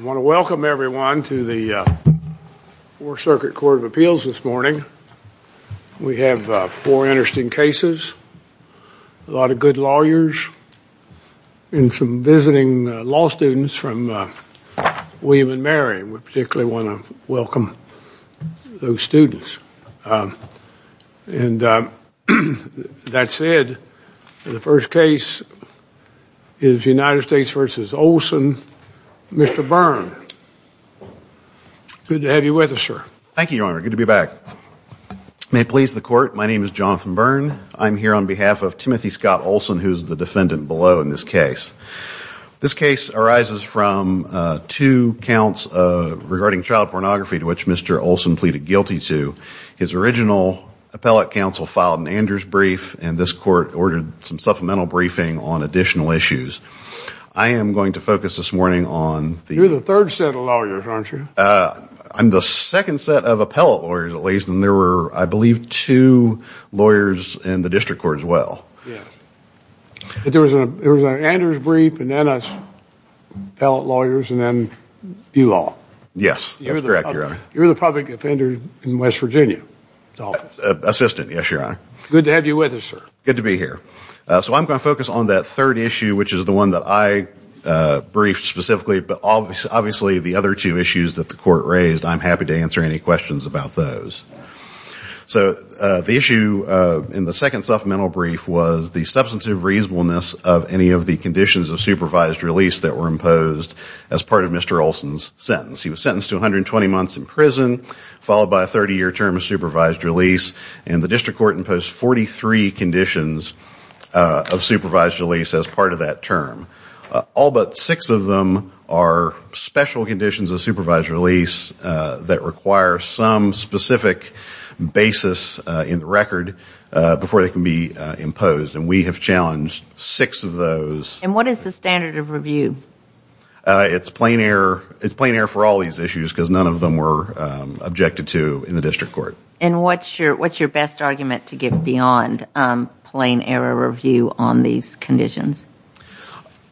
I want to welcome everyone to the Fourth Circuit Court of Appeals this morning. We have four interesting cases, a lot of good lawyers, and some visiting law students from William & Mary. We particularly want to welcome those students. That said, the first case is United States v. Olson, Mr. Byrne. Good to have you with us, sir. Thank you, Your Honor. Good to be back. May it please the Court, my name is Jonathan Byrne. I'm here on behalf of Timothy Scott Olson, who is the defendant below in this case. This case arises from two counts regarding child pornography to which Mr. Olson pleaded guilty to. His original appellate counsel filed an Anders brief, and this court ordered some supplemental briefing on additional issues. I am going to focus this morning on the... You're the third set of lawyers, aren't you? I'm the second set of appellate lawyers, at least, and there were, I believe, two lawyers in the district court as well. There was an Anders brief, and then appellate lawyers, and then you all. Yes, that's correct, Your Honor. You're the public offender in West Virginia. Assistant, yes, Your Honor. Good to have you with us, sir. Good to be here. So I'm going to focus on that third issue, which is the one that I briefed specifically, but obviously the other two issues that the court raised, I'm happy to answer any questions about those. So the issue in the second supplemental brief was the substantive reasonableness of any of the conditions of supervised release that were imposed as part of Mr. Olson's sentence. He was sentenced to 120 months in prison, followed by a 30-year term of supervised release, and the district court imposed 43 conditions of supervised release as part of that term. All but six of them are special conditions of supervised release that require some specific basis in the record before they can be imposed, and we have challenged six of those. And what is the standard of review? It's plain error. It's plain error for all these issues because none of them were objected to in the district court. And what's your best argument to get beyond plain error review on these conditions?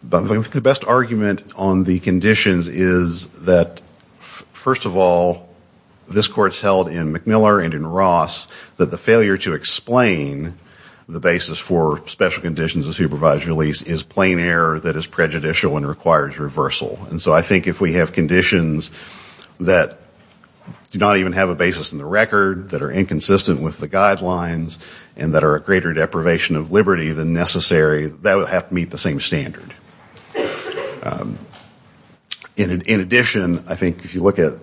The best argument on the conditions is that, first of all, this court's held in McMillar and in Ross that the failure to explain the basis for special conditions of supervised release is plain error that is prejudicial and requires reversal. And so I think if we have conditions that do not even have a basis in the record, that are inconsistent with the guidelines, and that are a greater deprivation of liberty than necessary, that would have to meet the same standard. In addition, I think if you look at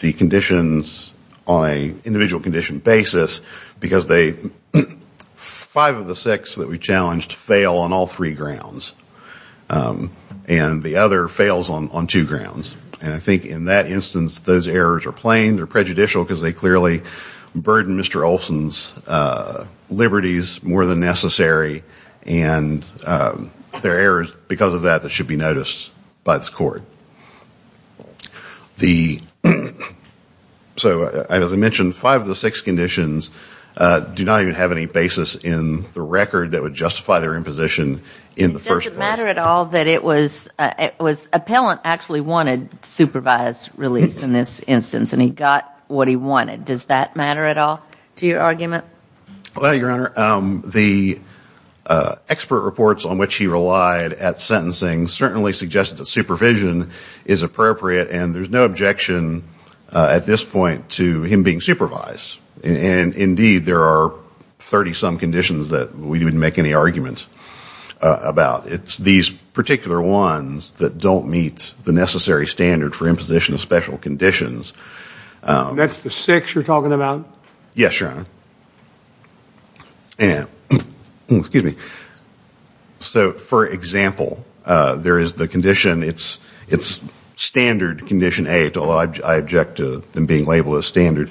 the conditions on an individual condition basis, because five of the six that we challenged fail on all three grounds, and the other fails on two grounds. And I think in that instance, those errors are plain, they're prejudicial because they clearly burden Mr. Olson's liberties more than necessary, and there are errors because of that that should be noticed by this court. So as I mentioned, five of the six conditions do not even have any basis in the record that would justify their imposition in the first place. It doesn't matter at all that it was appellant actually wanted supervised release in this instance, and he got what he wanted. Does that matter at all to your argument? Well, Your Honor, the expert reports on which he relied at sentencing certainly suggested that supervision is appropriate, and there's no objection at this point to him being supervised. And indeed, there are 30-some conditions that we wouldn't make any argument about. It's these particular ones that don't meet the necessary standard for imposition of special conditions. That's the six you're talking about? Yes, Your Honor. So for example, there is the condition, it's standard condition A, although I object to them being labeled as standard,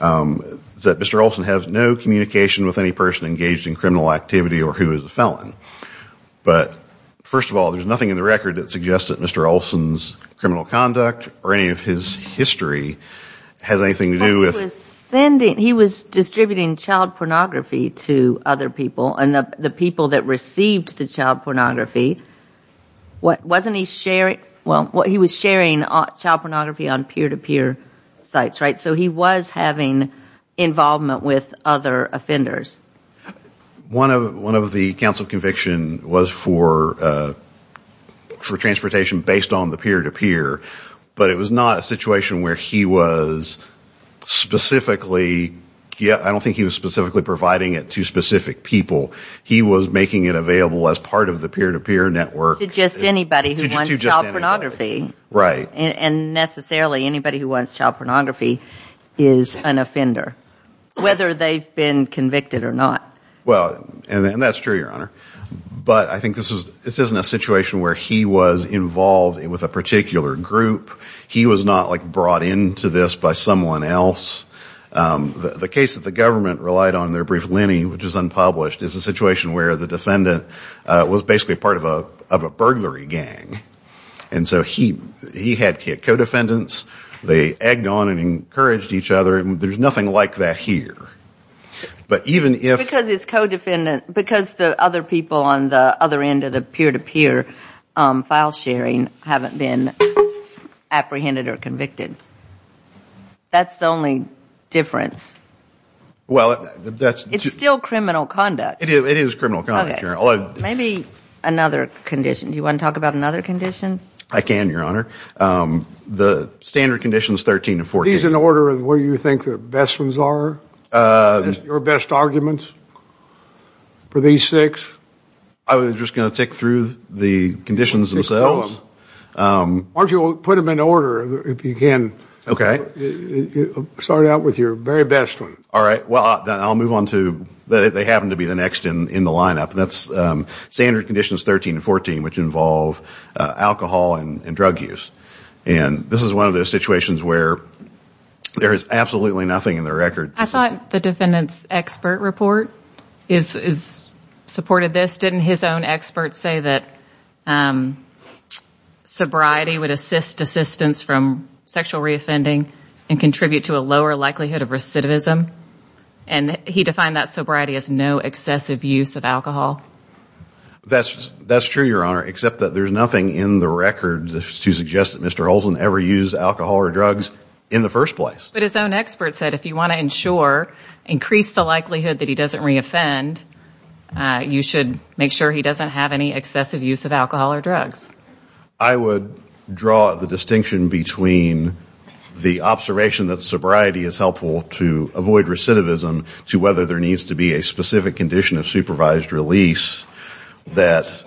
that Mr. Olson has no communication with any person engaged in criminal activity or who is a felon. But first of all, there's nothing in the record that suggests that Mr. Olson's criminal conduct or any of his history has anything to do with He was distributing child pornography to other people, and the people that received the child pornography, wasn't he sharing, well, he was sharing child pornography on peer-to-peer sites, right? So he was having involvement with other offenders. One of the counsel convictions was for transportation based on the peer-to-peer, but it was not a situation where he was specifically, I don't think he was specifically providing it to specific people. He was making it available as part of the peer-to-peer network. To just anybody who wants child pornography. Right. And necessarily anybody who wants child pornography is an offender, whether they've been convicted or not. Well, and that's true, Your Honor. But I think this isn't a situation where he was involved with a particular group. He was not like brought into this by someone else. The case that the government relied on, their brief lenny, which is unpublished, is a situation where the defendant was basically part of a burglary gang. And so he had co-defendants. They egged on and encouraged each other. There's nothing like that here. Because his co-defendant, because the other people on the other end of the peer-to-peer file sharing haven't been apprehended or convicted. That's the only difference. It's still criminal conduct. It is criminal conduct, Your Honor. Maybe another condition. Do you want to talk about another condition? I can, Your Honor. The standard conditions, 13 to 14. These in order of where you think the best ones are? Your best arguments for these six? I was just going to tick through the conditions themselves. Why don't you put them in order if you can. Start out with your very best one. All right. Well, I'll move on to, they happen to be the next in the lineup. That's standard conditions 13 and 14, which involve alcohol and drug use. And this is one of those situations where there is absolutely nothing in the record. I thought the defendant's expert report supported this. Didn't his own expert say that sobriety would assist desistance from sexual reoffending and contribute to a lower likelihood of recidivism? And he defined that sobriety as no excessive use of alcohol. That's true, Your Honor, except that there's nothing in the record to suggest that Mr. Holton ever used alcohol or drugs in the first place. But his own expert said if you want to ensure, increase the likelihood that he doesn't reoffend, you should make sure he doesn't have any excessive use of alcohol or drugs. I would draw the distinction between the observation that sobriety is helpful to avoid recidivism to whether there needs to be a specific condition of supervised release that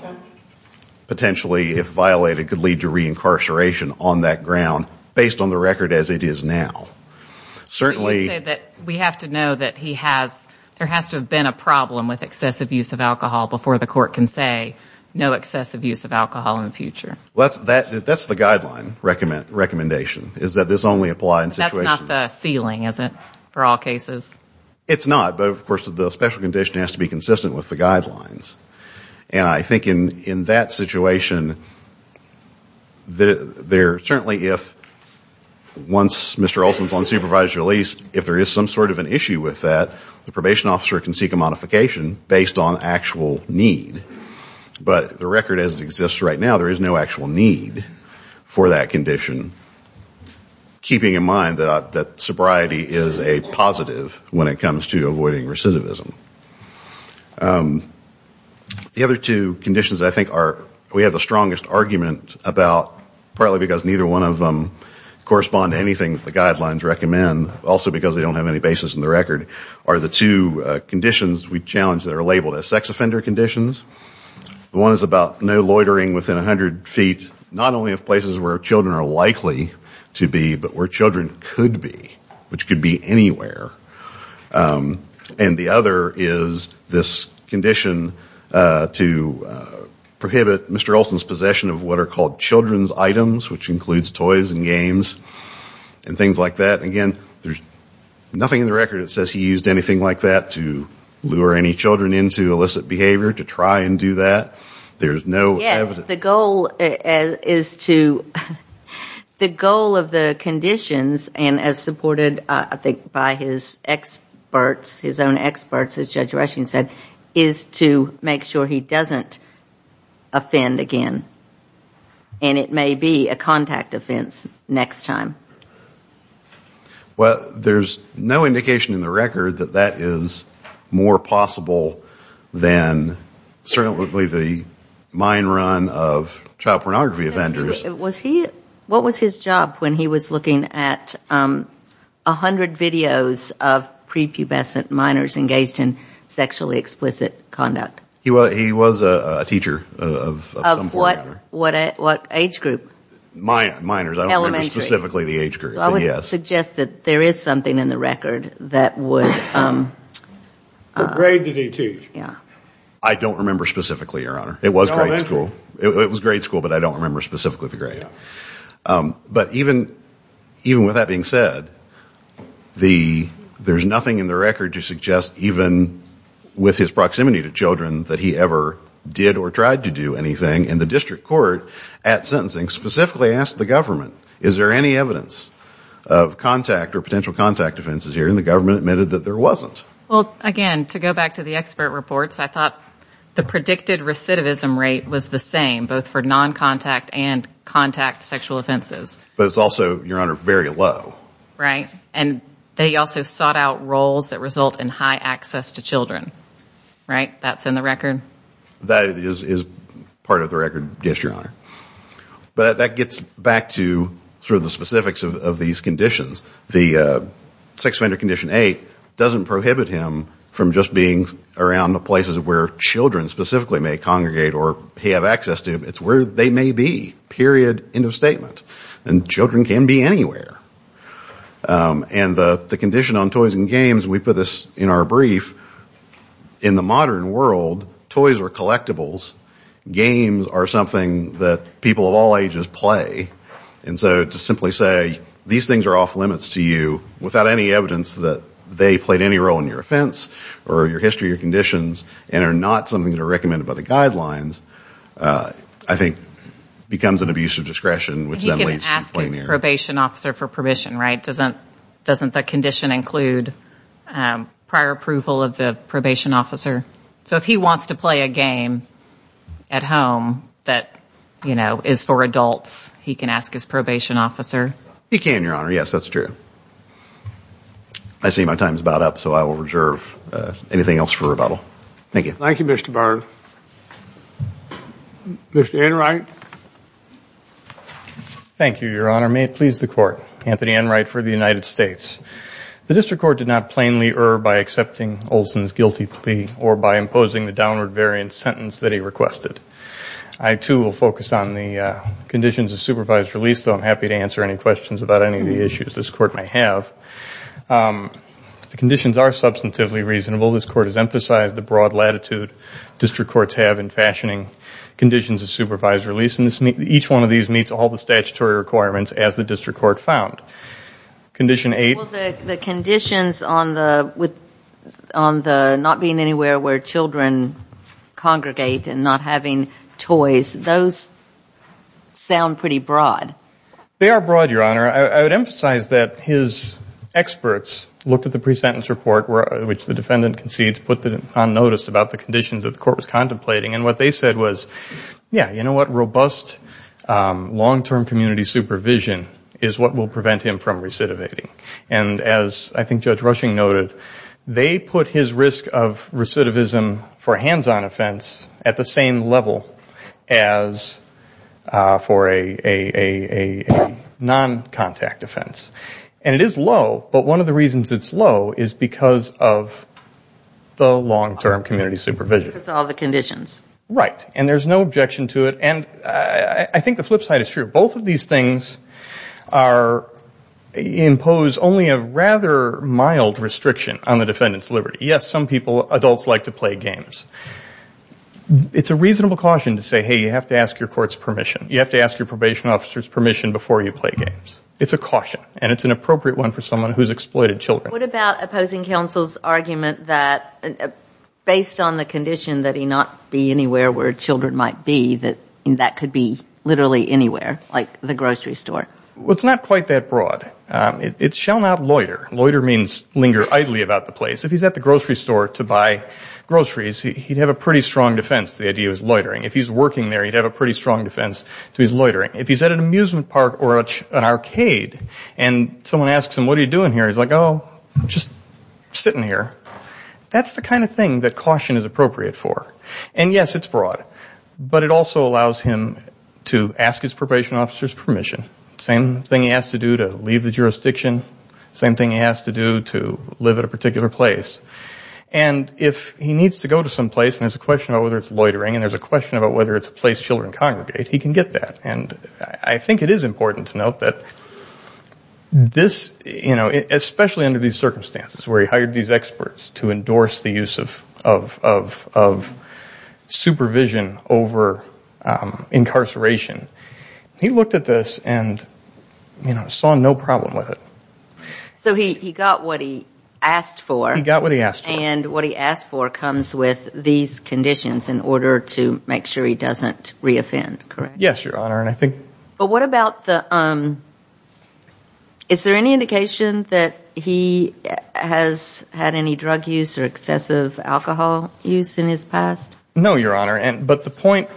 potentially, if violated, could lead to reincarceration on that ground, based on the record as it is now. We have to know that there has to have been a problem with excessive use of alcohol before the court can say no excessive use of alcohol in the future. That's the guideline recommendation, is that this only applies in situations... That's not the ceiling, is it, for all cases? It's not, but of course the special condition has to be consistent with the guidelines. And I think in that situation, certainly if once Mr. Olson is on supervised release, if there is some sort of an issue with that, the probation officer can seek a modification based on actual need. But the record as it exists right now, there is no actual need for that condition, keeping in mind that sobriety is a positive when it comes to avoiding recidivism. The other two conditions I think we have the strongest argument about, partly because neither one of them correspond to anything that the guidelines recommend, also because they don't have any basis in the record, are the two conditions we challenge that are labeled as sex offender conditions. One is about no loitering within 100 feet, not only of places where children are likely to be, but where children could be, which could be anywhere. And the other is this condition to prohibit Mr. Olson's possession of what are called children's items, which includes toys and games and things like that. Again, there's nothing in the record that says he used anything like that to lure any children into illicit behavior, to try and do that. There's no evidence. The goal of the conditions, and as supported I think by his own experts, as Judge Rushing said, is to make sure he doesn't offend again. And it may be a contact offense next time. Well, there's no indication in the record that that is more possible than certainly the mine run of child pornography offenders. What was his job when he was looking at 100 videos of prepubescent minors engaged in sexually explicit conduct? He was a teacher of some form. What age group? Minors. Elementary. I don't remember specifically the age group. So I would suggest that there is something in the record that would ‑‑ What grade did he teach? I don't remember specifically, Your Honor. It was grade school, but I don't remember specifically the grade. But even with that being said, there's nothing in the record to suggest even with his proximity to children that he ever did or tried to do anything in the district court at sentencing, specifically ask the government, is there any evidence of contact or potential contact offenses here? And the government admitted that there wasn't. Well, again, to go back to the expert reports, I thought the predicted recidivism rate was the same, both for noncontact and contact sexual offenses. But it's also, Your Honor, very low. Right. And they also sought out roles that result in high access to children. Right? That is part of the record, yes, Your Honor. But that gets back to sort of the specifics of these conditions. The sex offender condition eight doesn't prohibit him from just being around the places where children specifically may congregate or he have access to. It's where they may be, period, end of statement. And children can be anywhere. And the condition on toys and games, we put this in our brief, in the modern world, toys are collectibles. Games are something that people of all ages play. And so to simply say these things are off limits to you without any evidence that they played any role in your offense or your history or conditions and are not something that are recommended by the guidelines, I think becomes an abuse of discretion, which then leads to plenary. He can ask his probation officer for permission, right? Doesn't the condition include prior approval of the probation officer? So if he wants to play a game at home that, you know, is for adults, he can ask his probation officer? He can, Your Honor. Yes, that's true. I see my time is about up, so I will reserve anything else for rebuttal. Thank you. Thank you, Mr. Byrne. Mr. Enright. Thank you, Your Honor. May it please the Court. Anthony Enright for the United States. The district court did not plainly err by accepting Olson's guilty plea or by imposing the downward variant sentence that he requested. I, too, will focus on the conditions of supervised release, though I'm happy to answer any questions about any of the issues this court may have. The conditions are substantively reasonable. This court has emphasized the broad latitude district courts have in fashioning conditions of supervised release, and each one of these meets all the statutory requirements as the district court found. Condition eight. Well, the conditions on the not being anywhere where children congregate and not having toys, those sound pretty broad. They are broad, Your Honor. I would emphasize that his experts looked at the pre-sentence report, which the defendant concedes put on notice about the conditions that the court was contemplating, and what they said was, yeah, you know what? And as I think Judge Rushing noted, they put his risk of recidivism for a hands-on offense at the same level as for a non-contact offense. And it is low, but one of the reasons it's low is because of the long-term community supervision. Because of all the conditions. Right. And there's no objection to it. And I think the flip side is true. Both of these things impose only a rather mild restriction on the defendant's liberty. Yes, some people, adults, like to play games. It's a reasonable caution to say, hey, you have to ask your court's permission. You have to ask your probation officer's permission before you play games. It's a caution, and it's an appropriate one for someone who's exploited children. What about opposing counsel's argument that based on the condition that he not be anywhere where children might be, that that could be literally anywhere, like the grocery store? Well, it's not quite that broad. It shall not loiter. Loiter means linger idly about the place. If he's at the grocery store to buy groceries, he'd have a pretty strong defense to the idea of loitering. If he's working there, he'd have a pretty strong defense to his loitering. If he's at an amusement park or an arcade and someone asks him, what are you doing here? He's like, oh, just sitting here. That's the kind of thing that caution is appropriate for. And, yes, it's broad. But it also allows him to ask his probation officer's permission. Same thing he has to do to leave the jurisdiction. Same thing he has to do to live at a particular place. And if he needs to go to some place and there's a question about whether it's loitering and there's a question about whether it's a place children congregate, he can get that. And I think it is important to note that this, you know, especially under these circumstances where he hired these experts to endorse the use of supervision over incarceration, he looked at this and, you know, saw no problem with it. So he got what he asked for. He got what he asked for. And what he asked for comes with these conditions in order to make sure he doesn't reoffend, correct? Yes, Your Honor. But what about the ‑‑ is there any indication that he has had any drug use or excessive alcohol use in his past? No, Your Honor. But the point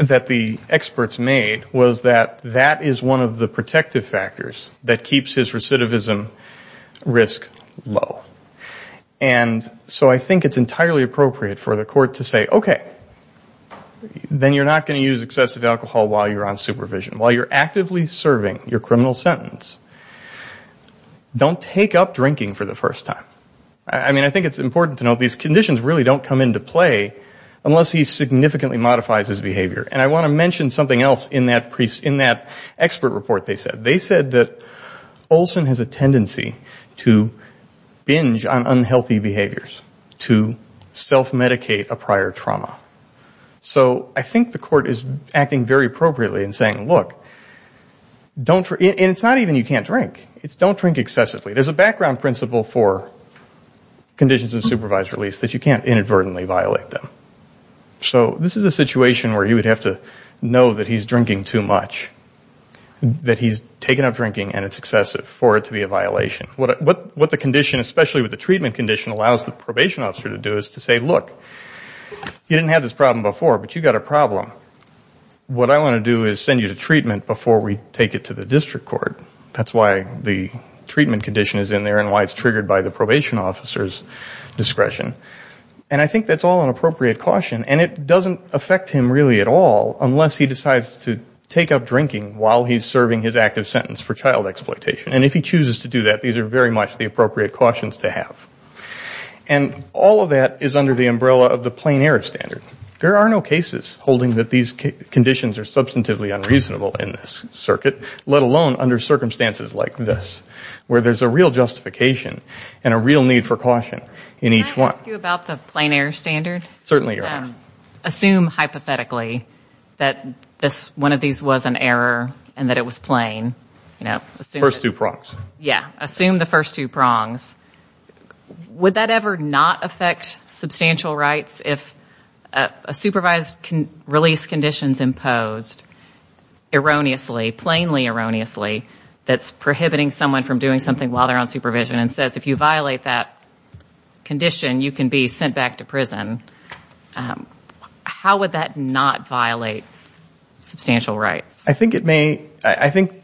that the experts made was that that is one of the protective factors that keeps his recidivism risk low. And so I think it's entirely appropriate for the court to say, okay, then you're not going to use excessive alcohol while you're on supervision. While you're actively serving your criminal sentence, don't take up drinking for the first time. I mean, I think it's important to note these conditions really don't come into play unless he significantly modifies his behavior. And I want to mention something else in that expert report they said. They said that Olson has a tendency to binge on unhealthy behaviors, to self-medicate a prior trauma. So I think the court is acting very appropriately in saying, look, and it's not even you can't drink. It's don't drink excessively. There's a background principle for conditions of supervised release that you can't inadvertently violate them. So this is a situation where you would have to know that he's drinking too much, that he's taken up drinking and it's excessive for it to be a violation. What the condition, especially with the treatment condition, allows the probation officer to do is to say, look, you didn't have this problem before, but you've got a problem. What I want to do is send you to treatment before we take it to the district court. That's why the treatment condition is in there and why it's triggered by the probation officer's discretion. And I think that's all an appropriate caution. And it doesn't affect him really at all unless he decides to take up drinking while he's serving his active sentence for child exploitation. And if he chooses to do that, these are very much the appropriate cautions to have. And all of that is under the umbrella of the plain error standard. There are no cases holding that these conditions are substantively unreasonable in this circuit, let alone under circumstances like this where there's a real justification and a real need for caution in each one. Can I ask you about the plain error standard? Certainly. Assume hypothetically that one of these was an error and that it was plain. First two prongs. Yeah, assume the first two prongs. Would that ever not affect substantial rights if a supervised release condition is imposed erroneously, plainly erroneously, that's prohibiting someone from doing something while they're on supervision and says if you violate that condition, you can be sent back to prison. How would that not violate substantial rights? I think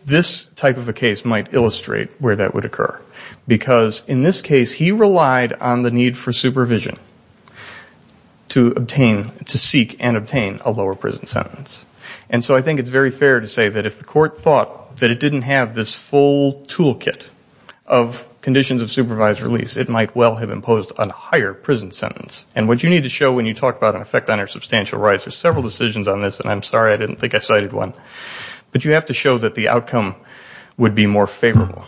this type of a case might illustrate where that would occur because in this case he relied on the need for supervision to seek and obtain a lower prison sentence. And so I think it's very fair to say that if the court thought that it didn't have this full toolkit of conditions of supervised release, it might well have imposed a higher prison sentence. And what you need to show when you talk about an effect on your substantial rights, there's several decisions on this and I'm sorry I didn't think I cited one, but you have to show that the outcome would be more favorable.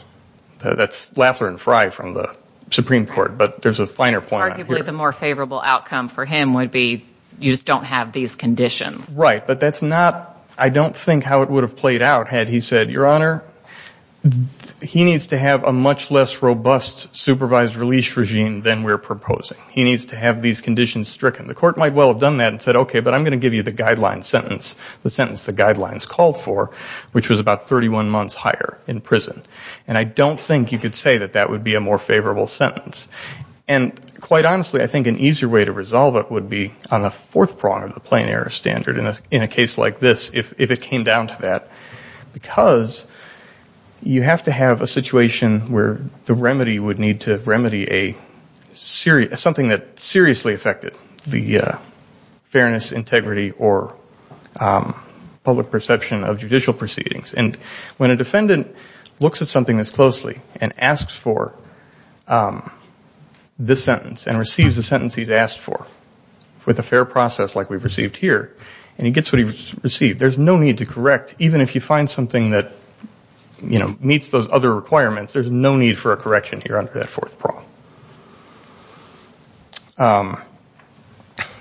That's Laffler and Frye from the Supreme Court, but there's a finer point. Arguably the more favorable outcome for him would be you just don't have these conditions. Right, but that's not, I don't think how it would have played out had he said, Your Honor, he needs to have a much less robust supervised release regime than we're proposing. He needs to have these conditions stricken. The court might well have done that and said, Okay, but I'm going to give you the guideline sentence, the sentence the guidelines called for, which was about 31 months higher in prison. And I don't think you could say that that would be a more favorable sentence. And quite honestly, I think an easier way to resolve it would be on the fourth prong of the plain error standard in a case like this if it came down to that because you have to have a situation where the remedy would need to remedy something that seriously affected the fairness, integrity, or public perception of judicial proceedings. And when a defendant looks at something this closely and asks for this sentence and receives the sentence he's asked for with a fair process like we've received here and he gets what he's received, there's no need to correct. Even if you find something that meets those other requirements, there's no need for a correction here under that fourth prong.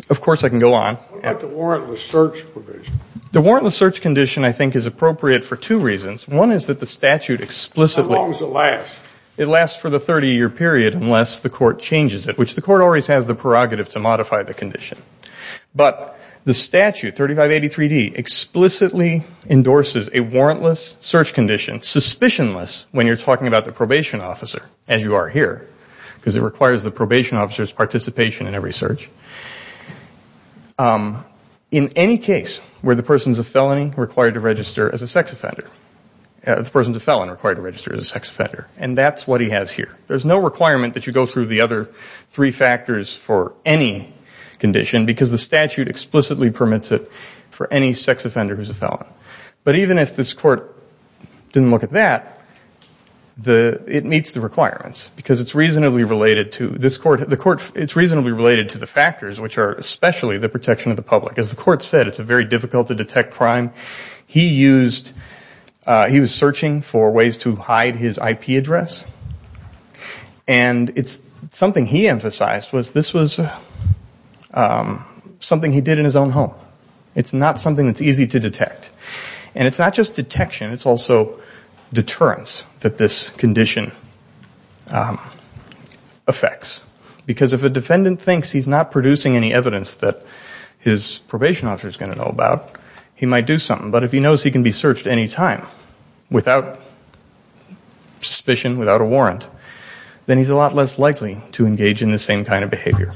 Of course I can go on. What about the warrantless search provision? The warrantless search condition I think is appropriate for two reasons. One is that the statute explicitly How long does it last? It lasts for the 30-year period unless the court changes it, which the court always has the prerogative to modify the condition. But the statute, 3583D, explicitly endorses a warrantless search condition, suspicionless when you're talking about the probation officer, as you are here, because it requires the probation officer's participation in every search, in any case where the person is a felon and required to register as a sex offender. And that's what he has here. There's no requirement that you go through the other three factors for any condition because the statute explicitly permits it for any sex offender who's a felon. But even if this court didn't look at that, it meets the requirements because it's reasonably related to the factors, which are especially the protection of the public. As the court said, it's very difficult to detect crime. He was searching for ways to hide his IP address. And something he emphasized was this was something he did in his own home. It's not something that's easy to detect. And it's not just detection. It's also deterrence that this condition affects. Because if a defendant thinks he's not producing any evidence that his probation officer is going to know about, he might do something. But if he knows he can be searched any time without suspicion, without a warrant, then he's a lot less likely to engage in this same kind of behavior.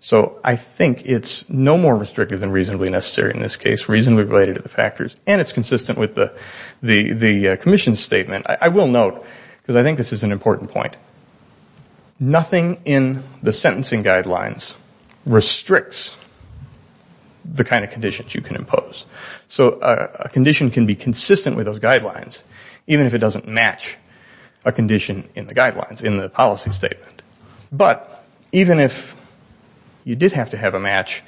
So I think it's no more restrictive than reasonably necessary in this case, reasonably related to the factors, and it's consistent with the commission's statement. I will note, because I think this is an important point, nothing in the sentencing guidelines restricts the kind of conditions you can impose. So a condition can be consistent with those guidelines, even if it doesn't match a condition in the guidelines, in the policy statement. But even if you did have to have a match,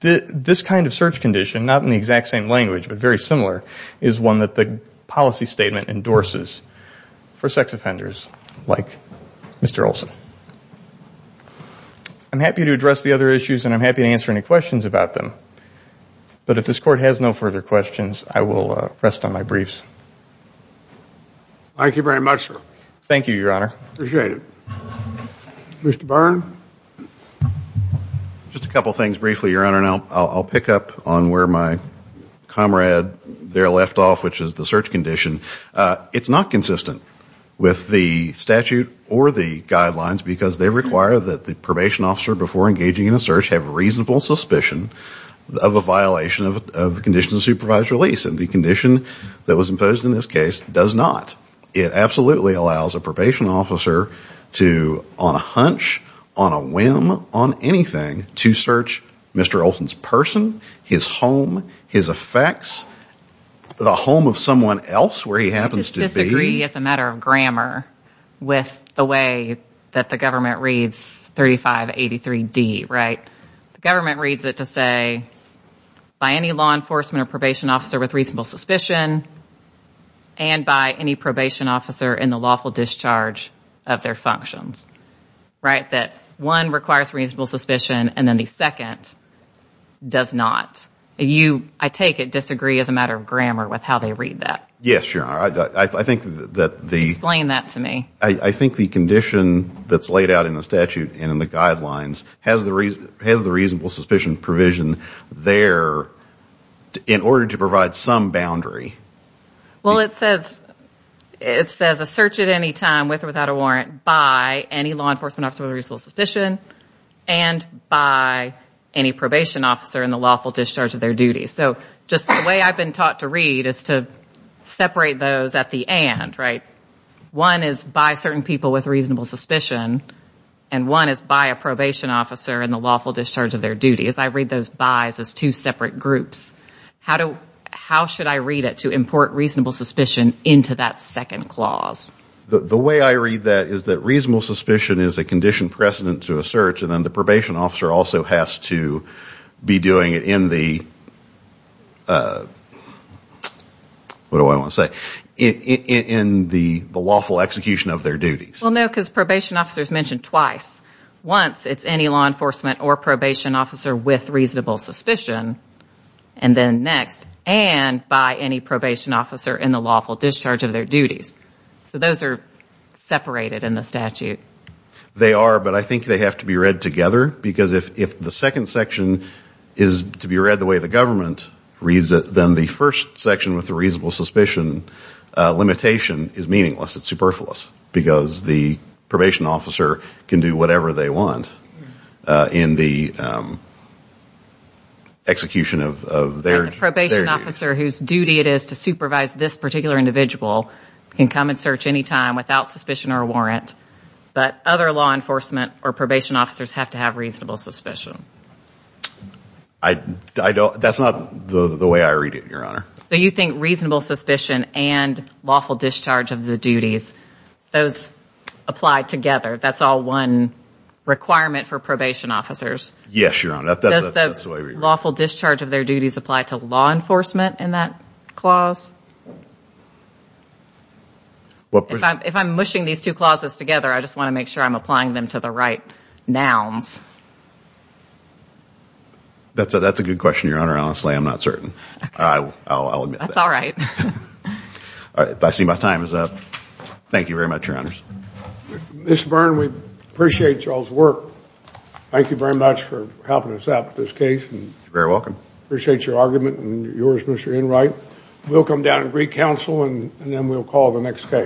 this kind of search condition, not in the exact same language but very similar, is one that the policy statement endorses for sex offenders like Mr. Olson. I'm happy to address the other issues, and I'm happy to answer any questions about them. But if this Court has no further questions, I will rest on my briefs. Thank you very much, sir. Thank you, Your Honor. Appreciate it. Mr. Barn? Just a couple things briefly, Your Honor. And I'll pick up on where my comrade there left off, which is the search condition. It's not consistent with the statute or the guidelines because they require that the probation officer, before engaging in a search, have reasonable suspicion of a violation of the condition of supervised release. And the condition that was imposed in this case does not. It absolutely allows a probation officer to, on a hunch, on a whim, on anything, to search Mr. Olson's person, his home, his effects, the home of someone else, where he happens to be. I disagree, as a matter of grammar, with the way that the government reads 3583D. The government reads it to say, by any law enforcement or probation officer with reasonable suspicion and by any probation officer in the lawful discharge of their functions. Right? That one requires reasonable suspicion and then the second does not. You, I take it, disagree, as a matter of grammar, with how they read that. Yes, Your Honor. I think that the... Explain that to me. I think the condition that's laid out in the statute and in the guidelines has the reasonable suspicion provision there in order to provide some boundary. Well, it says a search at any time, with or without a warrant, by any law enforcement officer with reasonable suspicion and by any probation officer in the lawful discharge of their duties. So just the way I've been taught to read is to separate those at the and. Right? One is by certain people with reasonable suspicion and one is by a probation officer in the lawful discharge of their duties. I read those by's as two separate groups. How should I read it to import reasonable suspicion into that second clause? The way I read that is that reasonable suspicion is a condition precedent to a search and then the probation officer also has to be doing it in the... What do I want to say? In the lawful execution of their duties. Well, no, because probation officer is mentioned twice. Once it's any law enforcement or probation officer with reasonable suspicion and then next, and by any probation officer in the lawful discharge of their duties. So those are separated in the statute. They are, but I think they have to be read together because if the second section is to be read the way the government reads it, then the first section with the reasonable suspicion limitation is meaningless. It's superfluous because the probation officer can do whatever they want in the execution of their duties. The probation officer whose duty it is to supervise this particular individual can come and search any time without suspicion or warrant, but other law enforcement or probation officers have to have reasonable suspicion. That's not the way I read it, Your Honor. So you think reasonable suspicion and lawful discharge of the duties, those apply together. That's all one requirement for probation officers. Yes, Your Honor. Does the lawful discharge of their duties apply to law enforcement in that clause? If I'm mushing these two clauses together, I just want to make sure I'm applying them to the right nouns. That's a good question, Your Honor. Honestly, I'm not certain. I'll admit that. That's all right. I see my time is up. Thank you very much, Your Honors. Mr. Byrne, we appreciate y'all's work. Thank you very much for helping us out with this case. You're very welcome. Appreciate your argument and yours, Mr. Enright. We'll come down and recounsel, and then we'll call the next case.